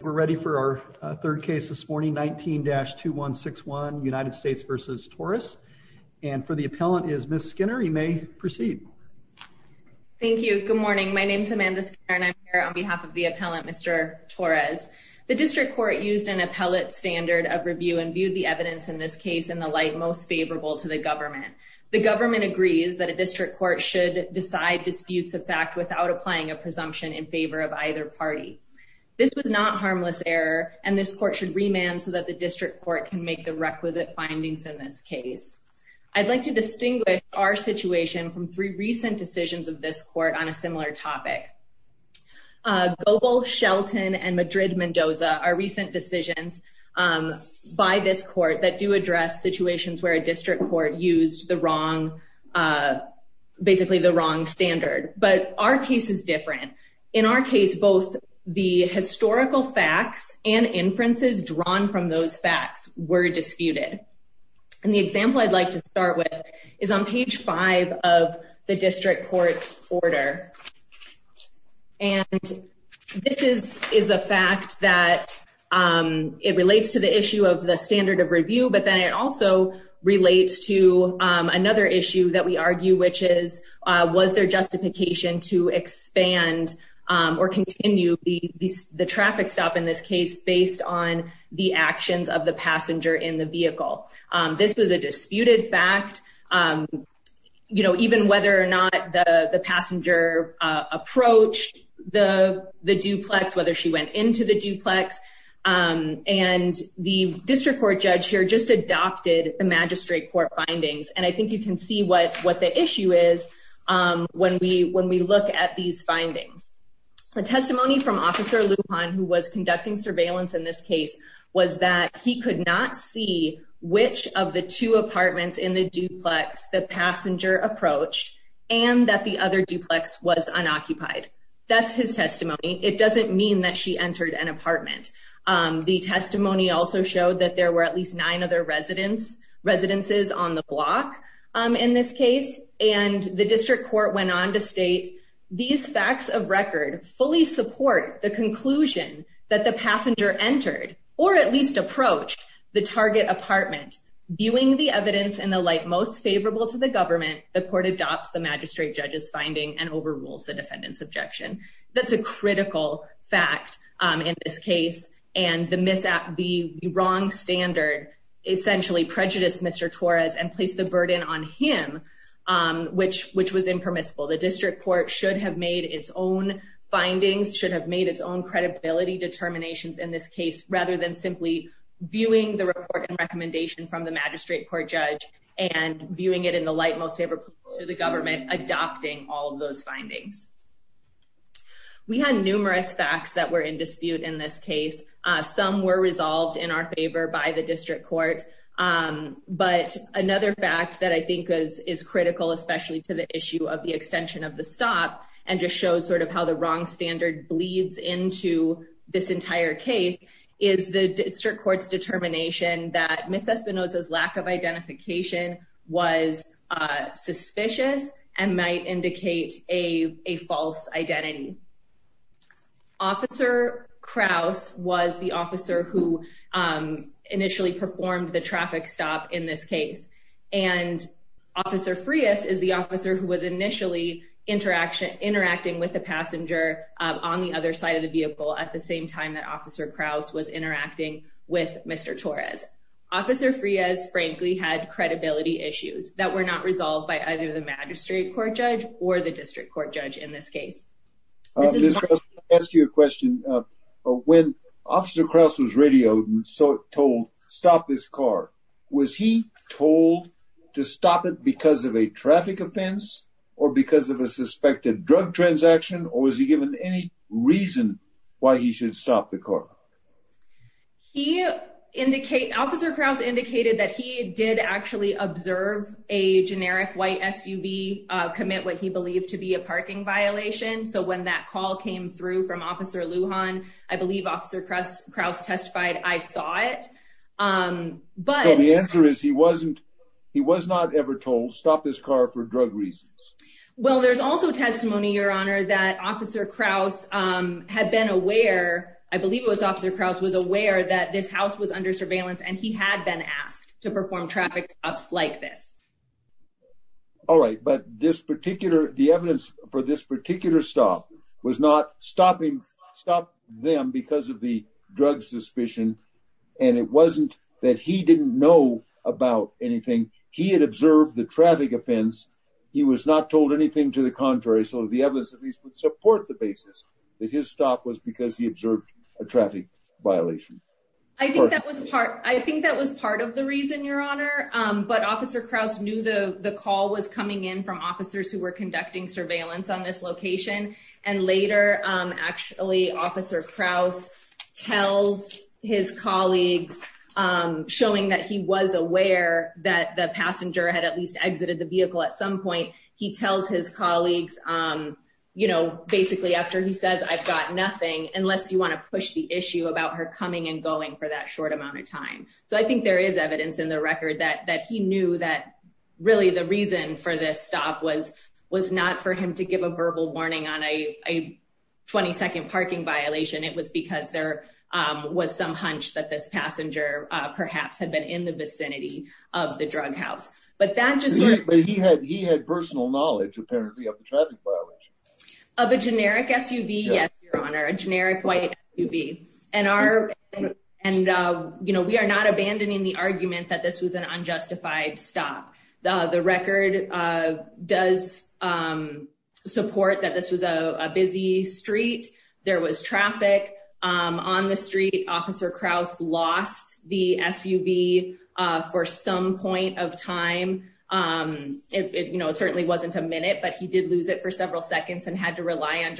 We're ready for our third case this morning, 19-2161, United States v. Torres. And for the appellant is Ms. Skinner. You may proceed. Thank you. Good morning. My name is Amanda Skinner and I'm here on behalf of the appellant, Mr. Torres. The district court used an appellate standard of review and viewed the evidence in this case in the light most favorable to the government. The government agrees that a district court should decide disputes of fact without applying a presumption in favor of either party. This was not harmless error and this court should remand so that the district court can make the requisite findings in this case. I'd like to distinguish our situation from three recent decisions of this court on a similar topic. Goebel, Shelton, and Madrid-Mendoza are recent decisions by this court that do address situations where a district court used the wrong, basically the wrong standard. But our case is different. In our case, both the historical facts and inferences drawn from those facts were disputed. And the example I'd like to start with is on page five of the district court's order. And this is a fact that it relates to the issue of the standard of review, but then it also relates to another issue that we argue, which is, was there justification to expand or continue the traffic stop in this case based on the actions of the passenger in the vehicle? This was a disputed fact, even whether or not the passenger approached the duplex, whether she went into the duplex. And the district court judge here just adopted the magistrate court findings. And I think you can see what the issue is when we look at these findings. A testimony from Officer Lujan, who was conducting surveillance in this case, was that he could not see which of the two apartments in the duplex the passenger approached and that the other duplex was unoccupied. That's his testimony. It doesn't mean that she entered an apartment. The testimony also showed that there were at least nine other residences on the block in this case. And the district court went on to state, these facts of record fully support the conclusion that the passenger entered, or at least approached, the target apartment. Viewing the evidence in the light most favorable to the government, the court adopts the magistrate judge's finding and overrules the defendant's objection. That's a critical fact in this case. And the wrong standard essentially prejudiced Mr. Torres and placed the burden on him, which was impermissible. The district court should have made its own findings, should have made its own credibility determinations in this case, rather than simply viewing the report and recommendation from the magistrate court judge and viewing it in the light most favorable to the government, adopting all of those findings. We had numerous facts that were in dispute in this case. Some were resolved in our favor by the district court. But another fact that I think is critical, especially to the issue of the extension of the stop, and just shows sort of how the wrong standard bleeds into this entire case, is the district court's determination that Ms. Espinoza's lack of identification was suspicious and might indicate a false identity. Officer Krause was the officer who initially performed the traffic stop in this case. And Officer Frias is the officer who was initially interacting with the passenger on the other side of the vehicle at the same time that Officer Krause was interacting with Mr. Torres. Officer Frias, frankly, had credibility issues that were not resolved by either the magistrate court judge or the district court judge in this case. Mr. Krause, let me ask you a question. When Officer Krause was radioed and told, stop this car, was he told to stop it because of a traffic offense or because of a suspected drug transaction, or was he given any reason why he should stop the car? He indicated, Officer Krause indicated that he did actually observe a generic white SUV commit what he believed to be a parking violation. So when that call came through from Officer Lujan, I believe Officer Krause testified, I saw it. So the answer is he wasn't, he was not ever told, stop this car for drug reasons. Well, there's also testimony, Your Honor, that Officer Krause had been aware, I believe it was Officer Krause was aware that this house was under surveillance and he had been asked to perform traffic stops like this. All right. But this particular, the evidence for this particular stop was not stopping, stop them because of the drug suspicion. And it wasn't that he didn't know about anything. He had observed the traffic offense. He was not told anything to the contrary. So the evidence at least would support the basis that his stop was because he observed a traffic violation. I think that was part, I think that was part of the reason, Your Honor. But Officer Krause knew the call was coming in from officers who were conducting surveillance on this location. And later, actually, Officer Krause tells his colleagues, showing that he was aware that the passenger had at least exited the vehicle at some point. He tells his colleagues, you know, basically after he says, I've got nothing unless you want to push the issue about her coming and going for that short amount of time. So I think there is evidence in the record that that he knew that really the reason for this stop was, was not for him to give a verbal warning on a 20 second parking violation. It was because there was some hunch that this passenger perhaps had been in the vicinity of the drug house. But that just. But he had he had personal knowledge apparently of the traffic violation. Of a generic SUV? Yes, Your Honor. A generic white SUV. And we are not abandoning the argument that this was an unjustified stop. The record does support that this was a busy street. There was traffic on the street. Officer Krause lost the SUV for some point of time. It certainly wasn't a minute, but he did lose it for several seconds and had to rely on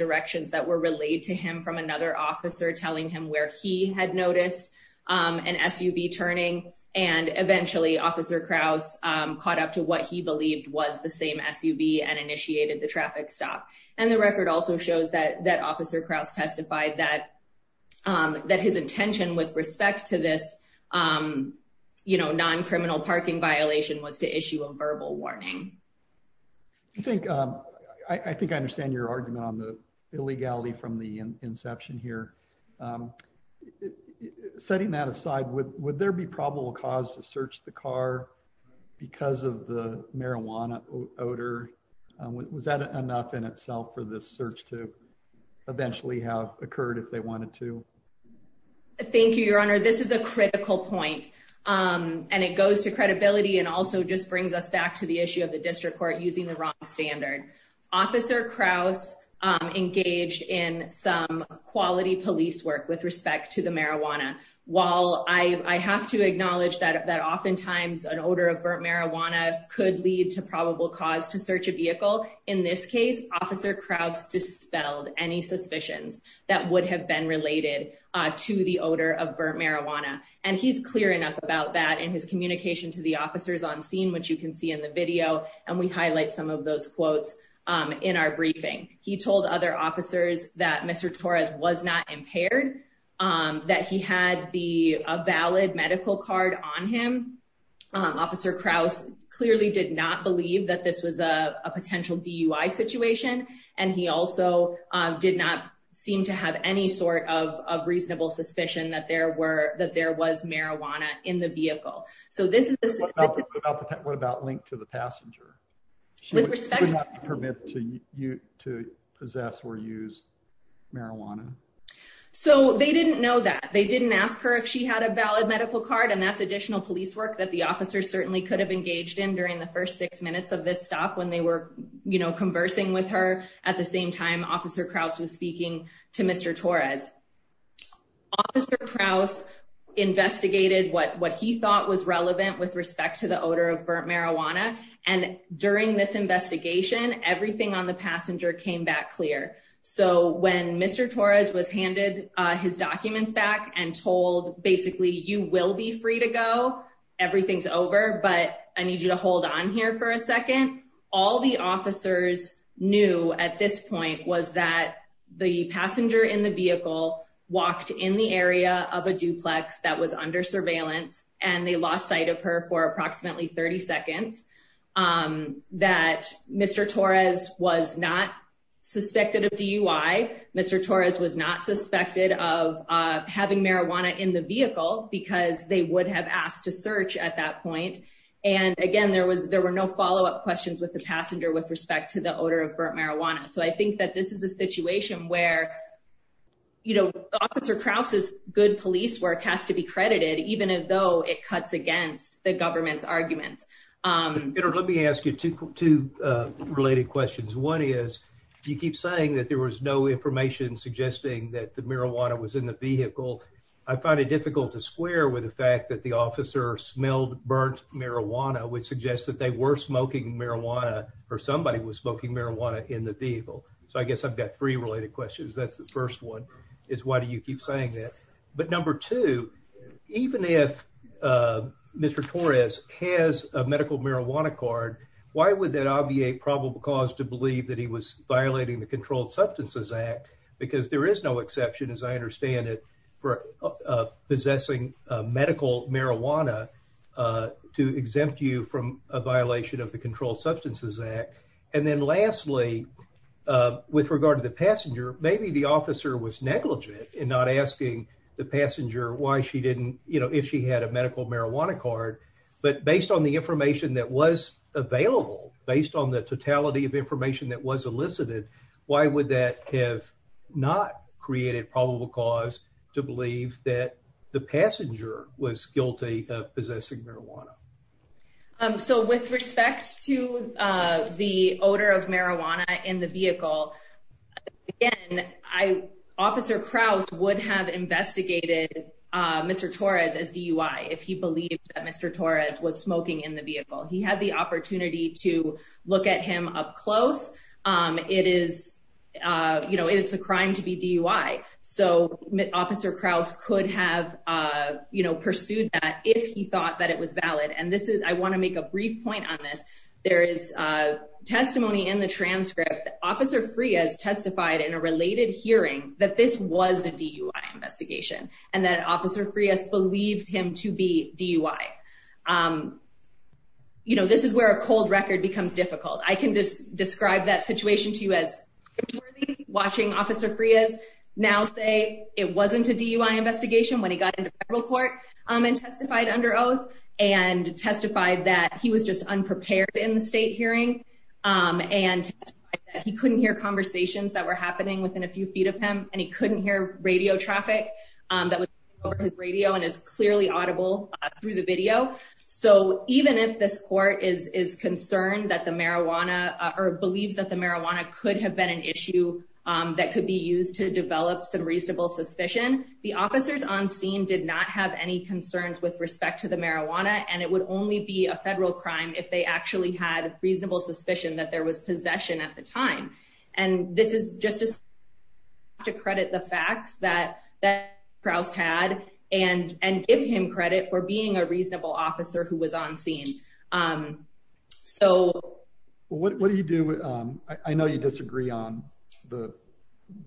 another officer telling him where he had noticed an SUV turning. And eventually, Officer Krause caught up to what he believed was the same SUV and initiated the traffic stop. And the record also shows that that Officer Krause testified that that his intention with respect to this, you know, non-criminal parking violation was to issue a verbal warning. I think I think I understand your argument on the illegality from the inception here. Setting that aside, would there be probable cause to search the car because of the marijuana odor? Was that enough in itself for this search to eventually have occurred if they wanted to? Thank you, Your Honor. This is a critical point and it goes to credibility and also just brings us back to the issue of the district court using the wrong standard. Officer Krause engaged in some quality police work with respect to the marijuana. While I have to acknowledge that oftentimes an odor of burnt marijuana could lead to probable cause to search a vehicle. In this case, Officer Krause dispelled any suspicions that would have been related to the odor of burnt marijuana. And he's clear enough about that in his communication to the officers on scene, which you can see in the video. And we highlight some of those quotes in our briefing. He told other officers that Mr. Torres was not impaired, that he had the valid medical card on him. Officer Krause clearly did not believe that this was a potential DUI situation. And he also did not seem to have any sort of reasonable suspicion that there were that there was marijuana in the vehicle. So this is what about link to the passenger with respect to you to possess or use marijuana? So they didn't know that they didn't ask her if she had a valid medical card and that's additional police work that the officer certainly could have engaged in during the first six minutes of this stop when they were, you know, conversing with her. At the same time, Officer Krause was speaking to Mr. Torres. Officer Krause investigated what he thought was relevant with respect to the odor of burnt marijuana. And during this investigation, everything on the passenger came back clear. So when Mr. Torres was handed his documents back and told, basically, you will be free to go, everything's over, but I need you to hold on here for a second. All the officers knew at this point was that the passenger in the vehicle walked in the area of a duplex that was under surveillance and they lost sight of her for approximately 30 seconds. That Mr. Torres was not suspected of DUI. Mr. Torres was not suspected of having marijuana in the vehicle because they would have asked to search at that point. And again, there were no follow-up questions with the passenger with respect to the odor of burnt marijuana. So I think that this is a situation where, you know, Officer Krause's good police work has to be credited, even as though it cuts against the government's arguments. Let me ask you two related questions. One is, you keep saying that there was no information suggesting that the marijuana was in the vehicle. I find it difficult to square with the fact that the officer smelled burnt marijuana, which suggests that they were smoking marijuana or somebody was smoking marijuana in the vehicle. So I guess I've got three related questions. That's the first one, is why do you keep saying that? But number two, even if Mr. Torres has a medical marijuana card, why would that obviate probable cause to believe that he was violating the Controlled Substances Act? Because there is no exception, as I understand it, for possessing medical marijuana to exempt you from a violation of the Controlled Substances Act. And then lastly, with regard to the passenger, maybe the officer was negligent in not asking the passenger why she didn't, you know, if she had a medical marijuana card. But based on the information that was available, based on the totality of information that was elicited, why would that have not created probable cause to believe that the passenger was guilty of possessing marijuana? So with respect to the odor of marijuana in the vehicle, again, Officer Krause would have investigated Mr. Torres as DUI if he believed that Mr. Torres was smoking in the vehicle. He had the opportunity to look at him up close. It is, you know, it's a crime to be DUI. So Officer Krause could have, you know, pursued that if he thought that it was valid. And this is, I want to make a brief point on this. There is testimony in the transcript that Officer Frias testified in a related hearing that this was a DUI investigation and that Officer Frias believed him to be DUI. You know, this is where a cold record becomes difficult. I can just describe that situation to you as watching Officer Frias now say it wasn't a DUI investigation when he got into federal court and testified under oath and testified that he was just unprepared in the state hearing and he couldn't hear conversations that were happening within a few feet of him and he couldn't hear radio traffic that was over his radio and is clearly audible through the video. So even if this court is concerned that the marijuana or believes that the marijuana could have been an issue that could be used to develop some reasonable suspicion, the officers on scene did not have any concerns with respect to the marijuana. And it would only be a federal crime if they actually had reasonable suspicion that there was possession at the time. And this is just to credit the facts that Krause had and give him credit for being a officer who was on scene. So what do you do? I know you disagree on the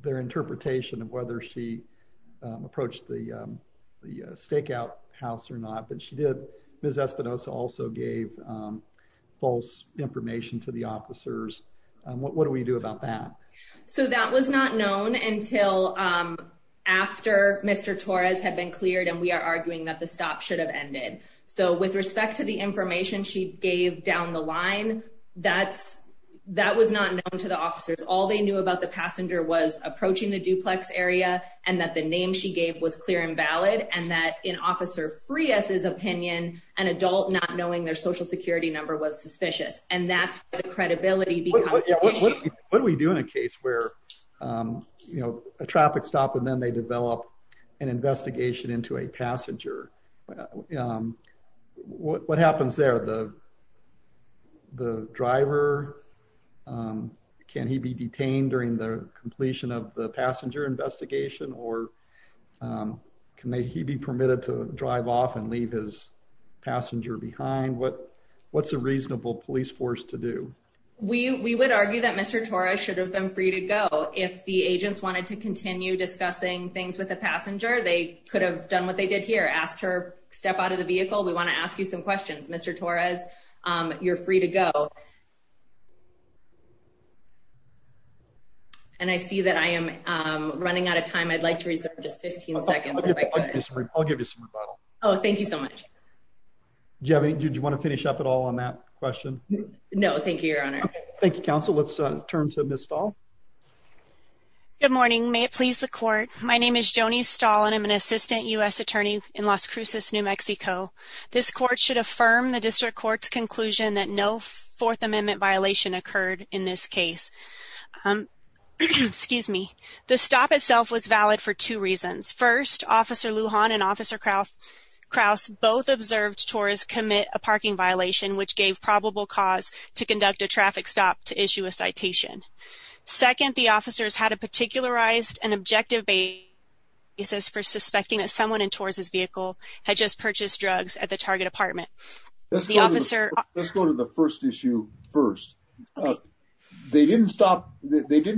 their interpretation of whether she approached the stakeout house or not, but she did. Ms. Espinosa also gave false information to the officers. What do we do about that? So that was not known until after Mr. Torres had been cleared and we are arguing that the stop should have ended. So with respect to the information she gave down the line, that's that was not known to the officers. All they knew about the passenger was approaching the duplex area and that the name she gave was clear and valid. And that in Officer Frias's opinion, an adult not knowing their Social Security number was suspicious. And that's credibility. What do we do in a case where, you know, a traffic stop and then they develop an investigation into a passenger? What happens there? The driver, can he be detained during the completion of the passenger investigation or can he be permitted to drive off and leave his passenger behind? What's a reasonable police force to do? We would argue that Mr. Torres should have been free to go. If the agents wanted to continue discussing things with the passenger, they could have done what they did here. Asked her to step out of the vehicle. We want to ask you some questions. Mr. Torres, you're free to go. And I see that I am running out of time. I'd like to reserve just 15 seconds. Oh, thank you so much. Do you want to finish up at all on that question? No, thank you, Your Honor. Thank you, Counsel. Let's turn to Ms. Stahl. Good morning. May it please the court. My name is Joni Stahl and I'm an assistant U.S. attorney in Las Cruces, New Mexico. This court should affirm the district court's conclusion that no Fourth Amendment violation occurred in this case. Excuse me. The stop itself was valid for two reasons. First, Officer Lujan and Officer Kraus both observed Torres commit a parking violation which gave probable cause to conduct a traffic stop to issue a citation. Second, the officers had a particularized and objective basis for suspecting that someone in Torres' vehicle had just purchased drugs at the target apartment. Let's go to the first issue first. They didn't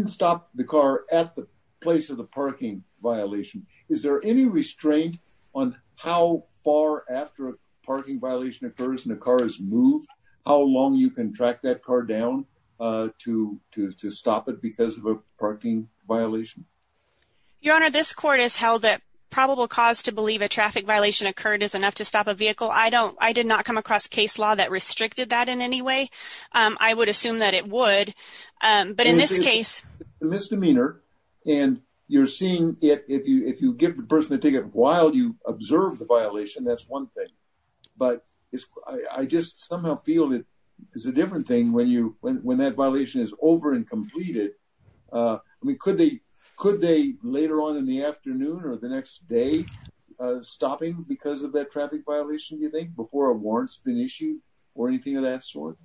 stop the car at the place of the parking violation. Is there any restraint on how far after a parking violation occurs and the car is moved, how long you can track that car down to stop it because of a parking violation? Your Honor, this court has held that probable cause to believe a traffic violation occurred is enough to stop a vehicle. I did not come across a case law that restricted that in any way. I would assume that it would. But in this case... It's a misdemeanor and you're seeing it. If you give the person a ticket while you observe the violation, that's one thing. But I just somehow feel it is a different thing when that violation is over and completed. I mean, could they later on in the afternoon or the next day stopping because of that traffic violation, you think, before a warrant's been issued or anything of that sort?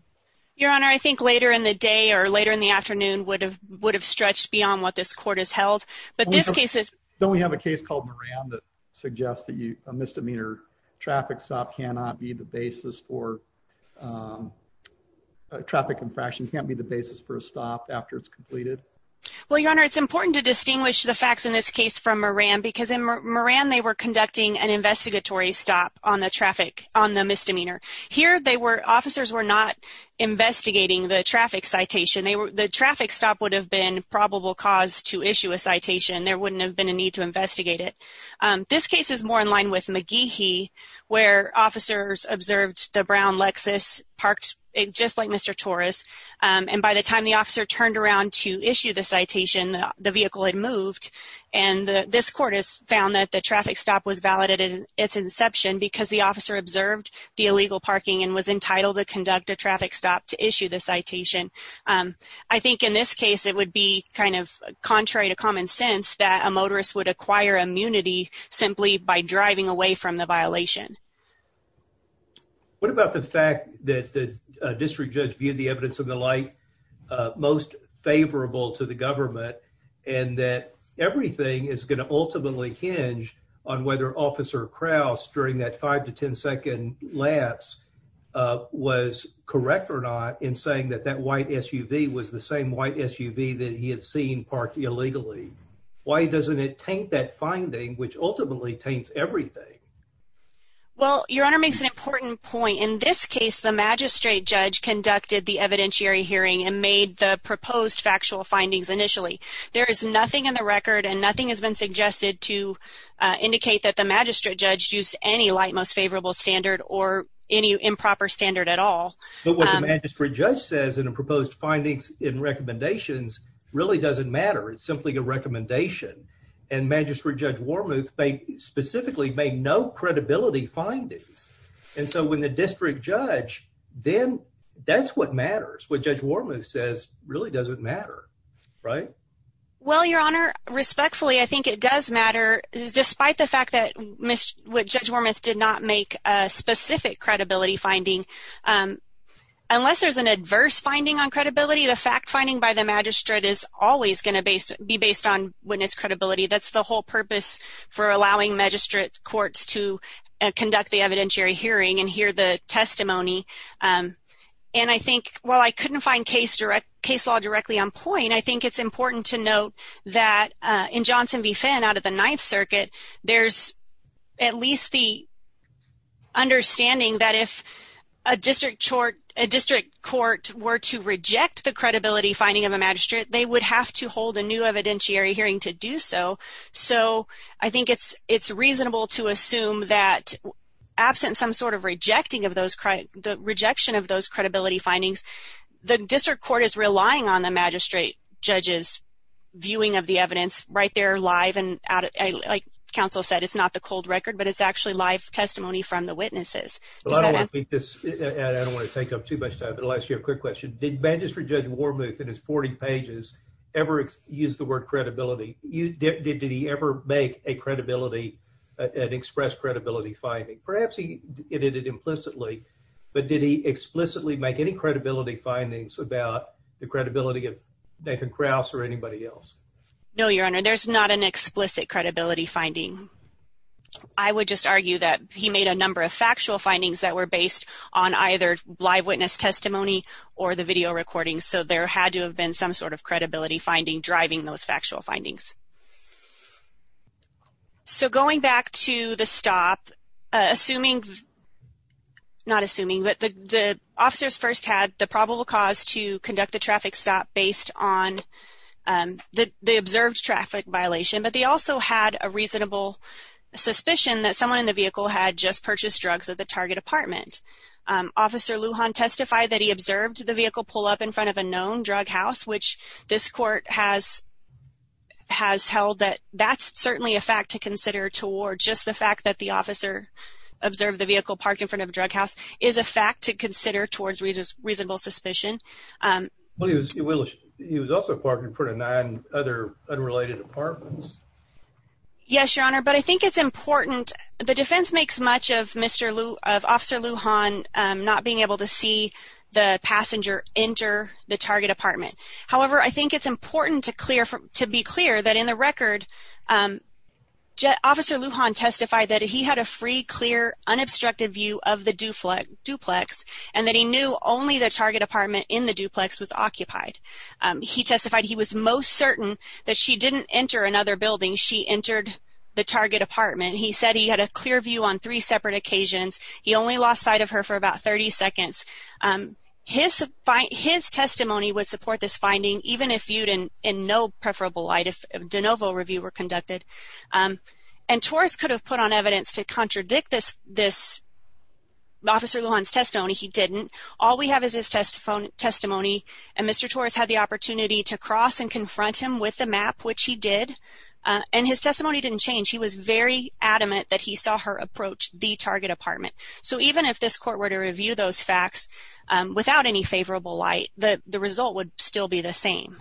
Your Honor, I think later in the day or later in the afternoon would have stretched beyond what this court has held. But this case is... Don't we have a case called Moran that suggests that a misdemeanor traffic stop cannot be the basis for... Traffic infraction can't be the basis for a stop after it's completed? Well, Your Honor, it's important to distinguish the facts in this case from Moran because in Moran they were conducting an investigatory stop on the traffic, on the misdemeanor. Here they were... Officers were not investigating the traffic citation. The traffic stop would have been probable cause to issue a citation. There wouldn't have been a need to investigate it. This case is more in line with McGehee where officers observed the Brown Lexus parked just like Mr. Torres. And by the time the officer turned around to issue the citation, the vehicle had moved. And this court has found that the traffic stop was valid at its inception because the officer observed the illegal parking and was entitled to conduct a traffic stop to issue the citation. I think in this case, it would be kind of contrary to common sense that a motorist would acquire immunity simply by driving away from the violation. What about the fact that the district judge viewed the evidence of the light most favorable to the government and that everything is going to ultimately hinge on whether Officer Krause during that 5 to 10 second lapse was correct or not in saying that that white SUV was the same white SUV that he had seen parked illegally? Why doesn't it taint that finding which ultimately taints everything? Well, Your Honor makes an important point. In this case, the magistrate judge conducted the evidentiary hearing and made the proposed factual findings initially. There is nothing in the record and nothing has been suggested to indicate that the magistrate judge used any light most favorable standard or any improper standard at all. But what the magistrate judge says in a proposed findings in recommendations really doesn't matter. It's simply a recommendation and magistrate Judge Wormuth specifically made no credibility findings. And so when the district judge, then that's what matters. What Judge Wormuth says really doesn't matter, right? Well, Your Honor, respectfully, I think it does matter despite the fact that Judge Wormuth did not make a specific credibility finding. Unless there's an adverse finding on credibility, the fact finding by the magistrate is always going to be based on witness credibility. That's the whole purpose for allowing magistrate courts to conduct the evidentiary hearing and hear the testimony. And I think while I couldn't find case law directly on point, I think it's important to note that in Johnson v Finn out of the Ninth Circuit, there's at least the understanding that if a district court were to reject the credibility finding of a magistrate, they would have to hold a new evidentiary hearing to do so. So I think it's reasonable to assume that absent some sort of rejecting of those, the rejection of those credibility findings, the district court is relying on the magistrate judge's viewing of the evidence right there live. And like counsel said, it's not the cold record, but it's actually live testimony from the witnesses. Well, I don't want to take up too much time, but I'll ask you a quick question. Did Magistrate Judge Wormuth in his 40 pages ever use the word credibility? Did he ever make a credibility, an express credibility finding? Perhaps he did it implicitly, but did he explicitly make any credibility findings about the credibility of Nathan Krauss or anybody else? No, Your Honor. There's not an explicit credibility finding. I would just argue that he made a number of factual findings that were based on either live witness testimony or the video recordings. So there had to have been some sort of credibility finding driving those factual findings. So going back to the stop, assuming, not assuming, but the officers first had the probable cause to conduct the traffic stop based on the observed traffic violation. But they also had a reasonable suspicion that someone in the vehicle had just purchased drugs at the target apartment. Officer Lujan testified that he observed the vehicle pull up in front of a known drug house, which this court has held that that's certainly a fact to consider toward just the fact that the officer observed the vehicle parked in front of a drug house is a fact to consider towards reasonable suspicion. He was also parked in front of nine other unrelated apartments. Yes, Your Honor, but I think it's important. The defense makes much of Officer Lujan not being able to see the passenger enter the target apartment. However, I think it's important to be clear that in the record, Officer Lujan testified that he had a free, clear, unobstructed view of the duplex and that he knew only the target apartment in the duplex was occupied. He testified he was most certain that she didn't enter another building. She entered the target apartment. He said he had a clear view on three separate occasions. He only lost sight of her for about 30 seconds. His testimony would support this finding, even if viewed in no preferable light, if de novo review were conducted. And Torres could have put on evidence to contradict this Officer Lujan's testimony. He didn't. All we have is his testimony, and Mr. Torres had the opportunity to cross and confront him with the map, which he did. And his testimony didn't change. He was very adamant that he saw her approach the target apartment. So even if this court were to review those facts without any favorable light, the result would still be the same.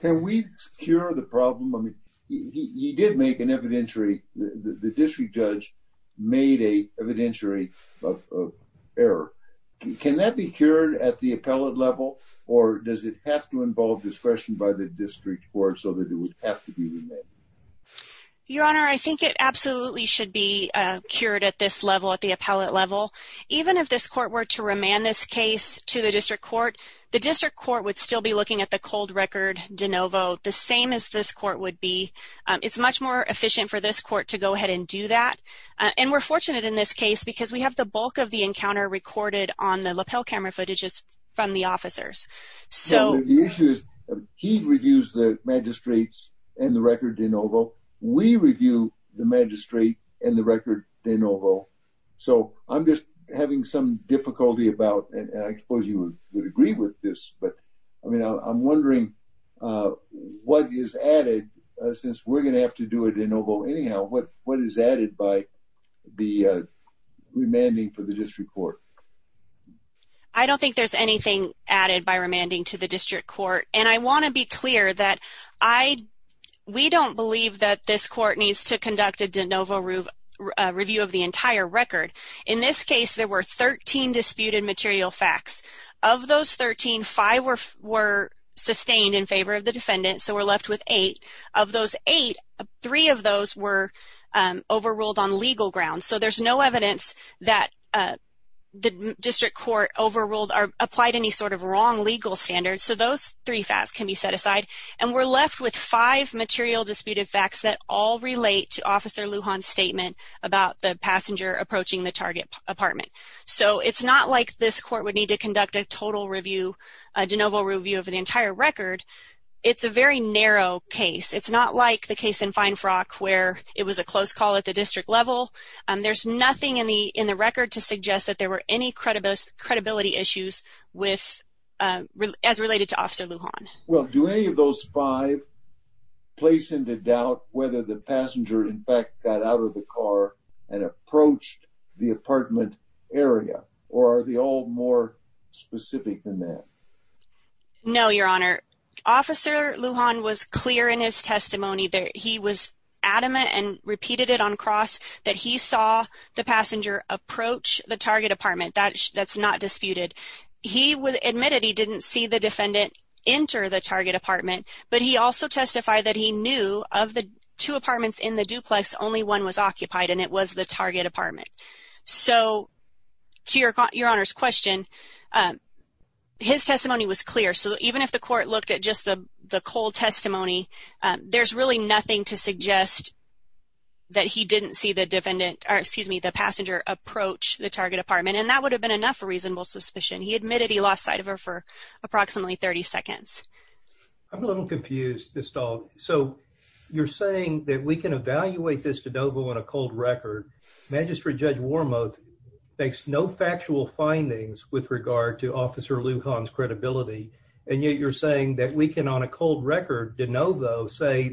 Can we cure the problem? I mean, he did make an evidentiary. The district judge made an evidentiary of error. Can that be cured at the appellate level, or does it have to involve discretion by the district court so that it would have to be remanded? Your Honor, I think it absolutely should be cured at this level, at the appellate level. Even if this court were to remand this case to the district court, the district court would still be looking at the cold record de novo, the same as this court would be. It's much more efficient for this court to go ahead and do that. And we're fortunate in this case because we have the bulk of the encounter recorded on the lapel camera footages from the officers. The issue is he reviews the magistrates and the record de novo. We review the magistrate and the record de novo. So I'm just having some difficulty about, and I suppose you would agree with this, but I mean, I'm wondering what is added since we're going to have to do a de novo anyhow. What is added by the remanding for the district court? I don't think there's anything added by remanding to the district court. And I want to be clear that I, we don't believe that this court needs to conduct a de novo review of the entire record. In this case, there were 13 disputed material facts. Of those 13, five were sustained in favor of the defendant. So we're left with eight. Of those eight, three of those were overruled on legal grounds. So there's no evidence that the district court overruled or applied any sort of wrong legal standards. So those three facts can be set aside. And we're left with five material disputed facts that all relate to Officer Lujan's statement about the passenger approaching the target apartment. So it's not like this court would need to conduct a total review, a de novo review of the entire record. It's a very narrow case. It's not like the case in Finefrock where it was a close call at the district level. There's nothing in the record to suggest that there were any credibility issues with, as related to Officer Lujan. Well, do any of those five place into doubt whether the passenger, in fact, got out of the car and approached the apartment area? Or are they all more specific than that? No, Your Honor. Officer Lujan was clear in his testimony that he was adamant and repeated it on cross that he saw the passenger approach the target apartment. That's not disputed. He admitted he didn't see the defendant enter the target apartment. But he also testified that he knew of the two apartments in the duplex, only one was occupied, and it was the target apartment. So to Your Honor's question, his testimony was clear. So even if the court looked at just the cold testimony, there's really nothing to suggest that he didn't see the defendant, or excuse me, the passenger approach the target apartment. And that would have been enough reasonable suspicion. He admitted he lost sight of her for approximately 30 seconds. I'm a little confused, Ms. Stahl. So you're saying that we can evaluate this de novo on a cold record. Magistrate Judge Wormuth makes no factual findings with regard to Officer Lujan's credibility, and yet you're saying that we can on a cold record de novo say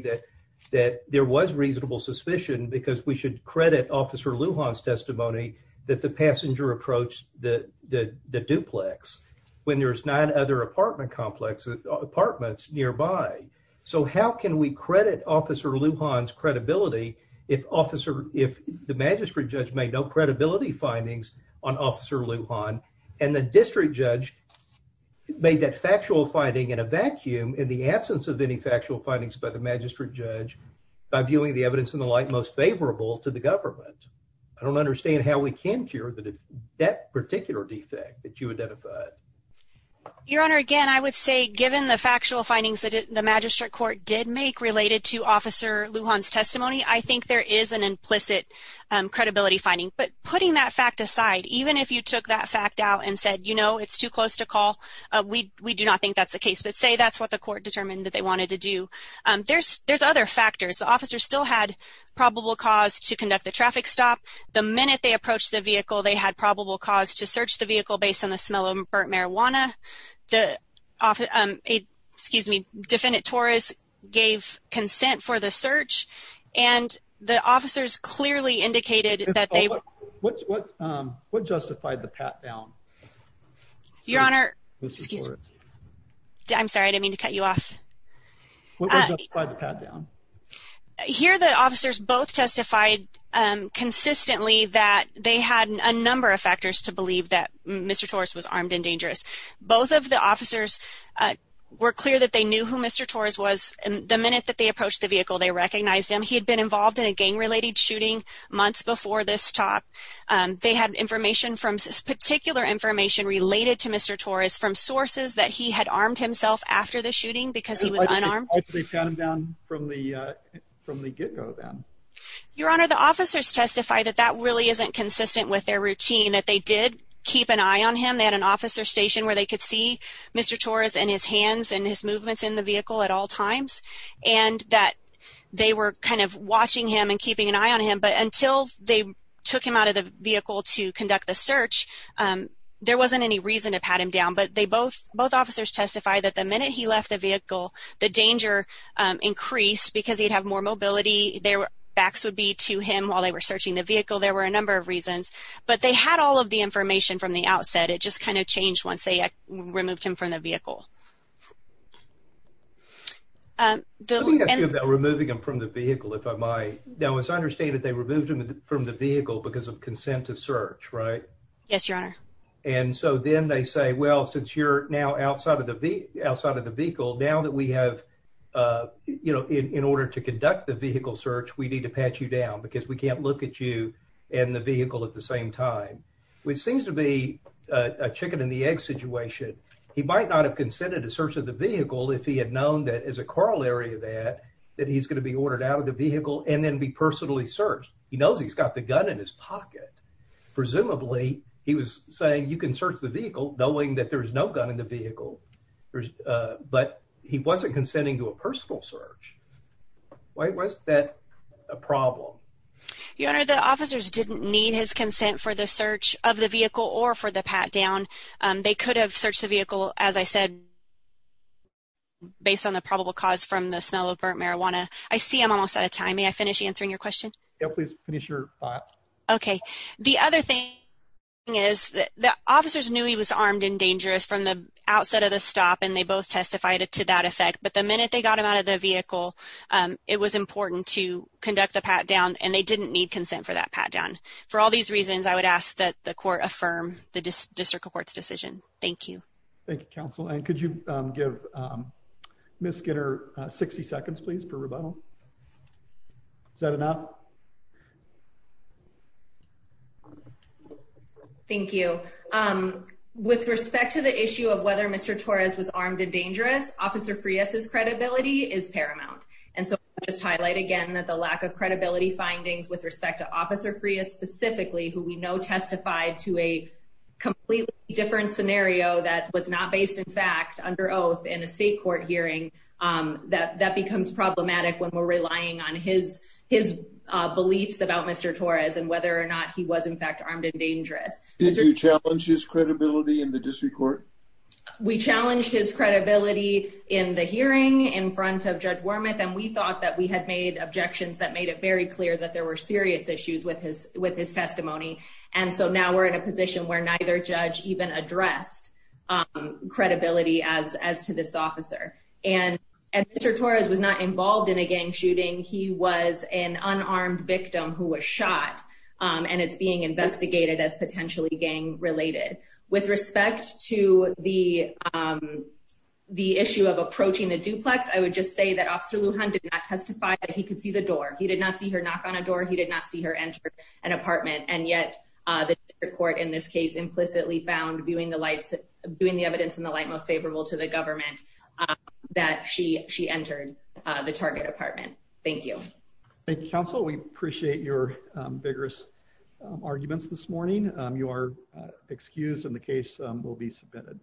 that there was reasonable suspicion because we should credit Officer Lujan's testimony that the passenger approached the duplex when there's nine other apartment complexes, apartments nearby. So how can we credit Officer Lujan's credibility if the magistrate judge made no credibility findings on Officer Lujan, and the district judge made that factual finding in a vacuum in the absence of any factual findings by the magistrate judge by viewing the evidence in the light most favorable to the government? I don't understand how we can cure that particular defect that you identified. Your Honor, again, I would say given the factual findings that the magistrate court did make related to Officer Lujan's testimony, I think there is an implicit credibility finding. But putting that fact aside, even if you took that fact out and said, you know, it's too that's the case, but say that's what the court determined that they wanted to do. There's other factors. The officers still had probable cause to conduct the traffic stop. The minute they approached the vehicle, they had probable cause to search the vehicle based on the smell of burnt marijuana. Defendant Torres gave consent for the search, and the officers clearly indicated that they What justified the pat down? Your Honor, I'm sorry. I didn't mean to cut you off. Here, the officers both testified consistently that they had a number of factors to believe that Mr. Torres was armed and dangerous. Both of the officers were clear that they knew who Mr. Torres was, and the minute that they approached the vehicle, they recognized him. He had been involved in a gang-related shooting months before this talk. They had information from particular information related to Mr. Torres from sources that he had armed himself after the shooting because he was unarmed. Your Honor, the officers testified that that really isn't consistent with their routine, that they did keep an eye on him. They had an officer station where they could see Mr. Torres and his hands and his movements in the vehicle at all times, and that they were kind of watching him and keeping an eye on him. But until they took him out of the vehicle to conduct the search, there wasn't any reason to pat him down. But both officers testified that the minute he left the vehicle, the danger increased because he'd have more mobility. Their backs would be to him while they were searching the vehicle. There were a number of reasons. But they had all of the information from the outset. It just kind of changed once they removed him from the vehicle. Let me ask you about removing him from the vehicle, if I might. Now, as I understand it, they removed him from the vehicle because of consent to search, right? Yes, Your Honor. And so then they say, well, since you're now outside of the vehicle, now that we have, you know, in order to conduct the vehicle search, we need to pat you down because we can't look at you and the vehicle at the same time, which seems to be a chicken and the egg situation. He might not have consented to search of the vehicle if he had known that as a corollary of that, that he's going to be ordered out of the vehicle and then be personally searched. He knows he's got the gun in his pocket. Presumably, he was saying, you can search the vehicle knowing that there's no gun in the vehicle. But he wasn't consenting to a personal search. Why was that a problem? Your Honor, the officers didn't need his consent for the search of the vehicle or for the pat down. They could have searched the vehicle, as I said, based on the probable cause from the smell of burnt marijuana. I see I'm almost out of time. May I finish answering your question? Yeah, please finish your thought. OK, the other thing is that the officers knew he was armed and dangerous from the outset of the stop, and they both testified to that effect. But the minute they got him out of the vehicle, it was important to conduct the pat down, and they didn't need consent for that pat down. For all these reasons, I would ask that the court affirm the district court's decision. Thank you. Thank you, counsel. And could you give Miss Skinner 60 seconds, please, for rebuttal? Is that enough? OK. Thank you. With respect to the issue of whether Mr. Torres was armed and dangerous, Officer Frias's credibility is paramount. And so I'll just highlight again that the lack of credibility findings with respect to Officer Frias specifically, who we know testified to a completely different scenario that was not based, in fact, under oath in a state court hearing, that becomes problematic when we're relying on his beliefs about Mr. Torres and whether or not he was, in fact, armed and dangerous. Did you challenge his credibility in the district court? We challenged his credibility in the hearing in front of Judge Wormuth, and we thought that we had made objections that made it very clear that there were serious issues with his testimony. And so now we're in a position where neither judge even addressed credibility as to this officer. And Mr. Torres was not involved in a gang shooting. He was an unarmed victim who was shot, and it's being investigated as potentially gang related. With respect to the issue of approaching the duplex, I would just say that Officer Lujan did not testify that he could see the door. He did not see her knock on a door. He did not see her enter an apartment. And yet the district court, in this case, implicitly found, viewing the evidence in the government, that she entered the target apartment. Thank you. Thank you, counsel. We appreciate your vigorous arguments this morning. You are excused, and the case will be submitted.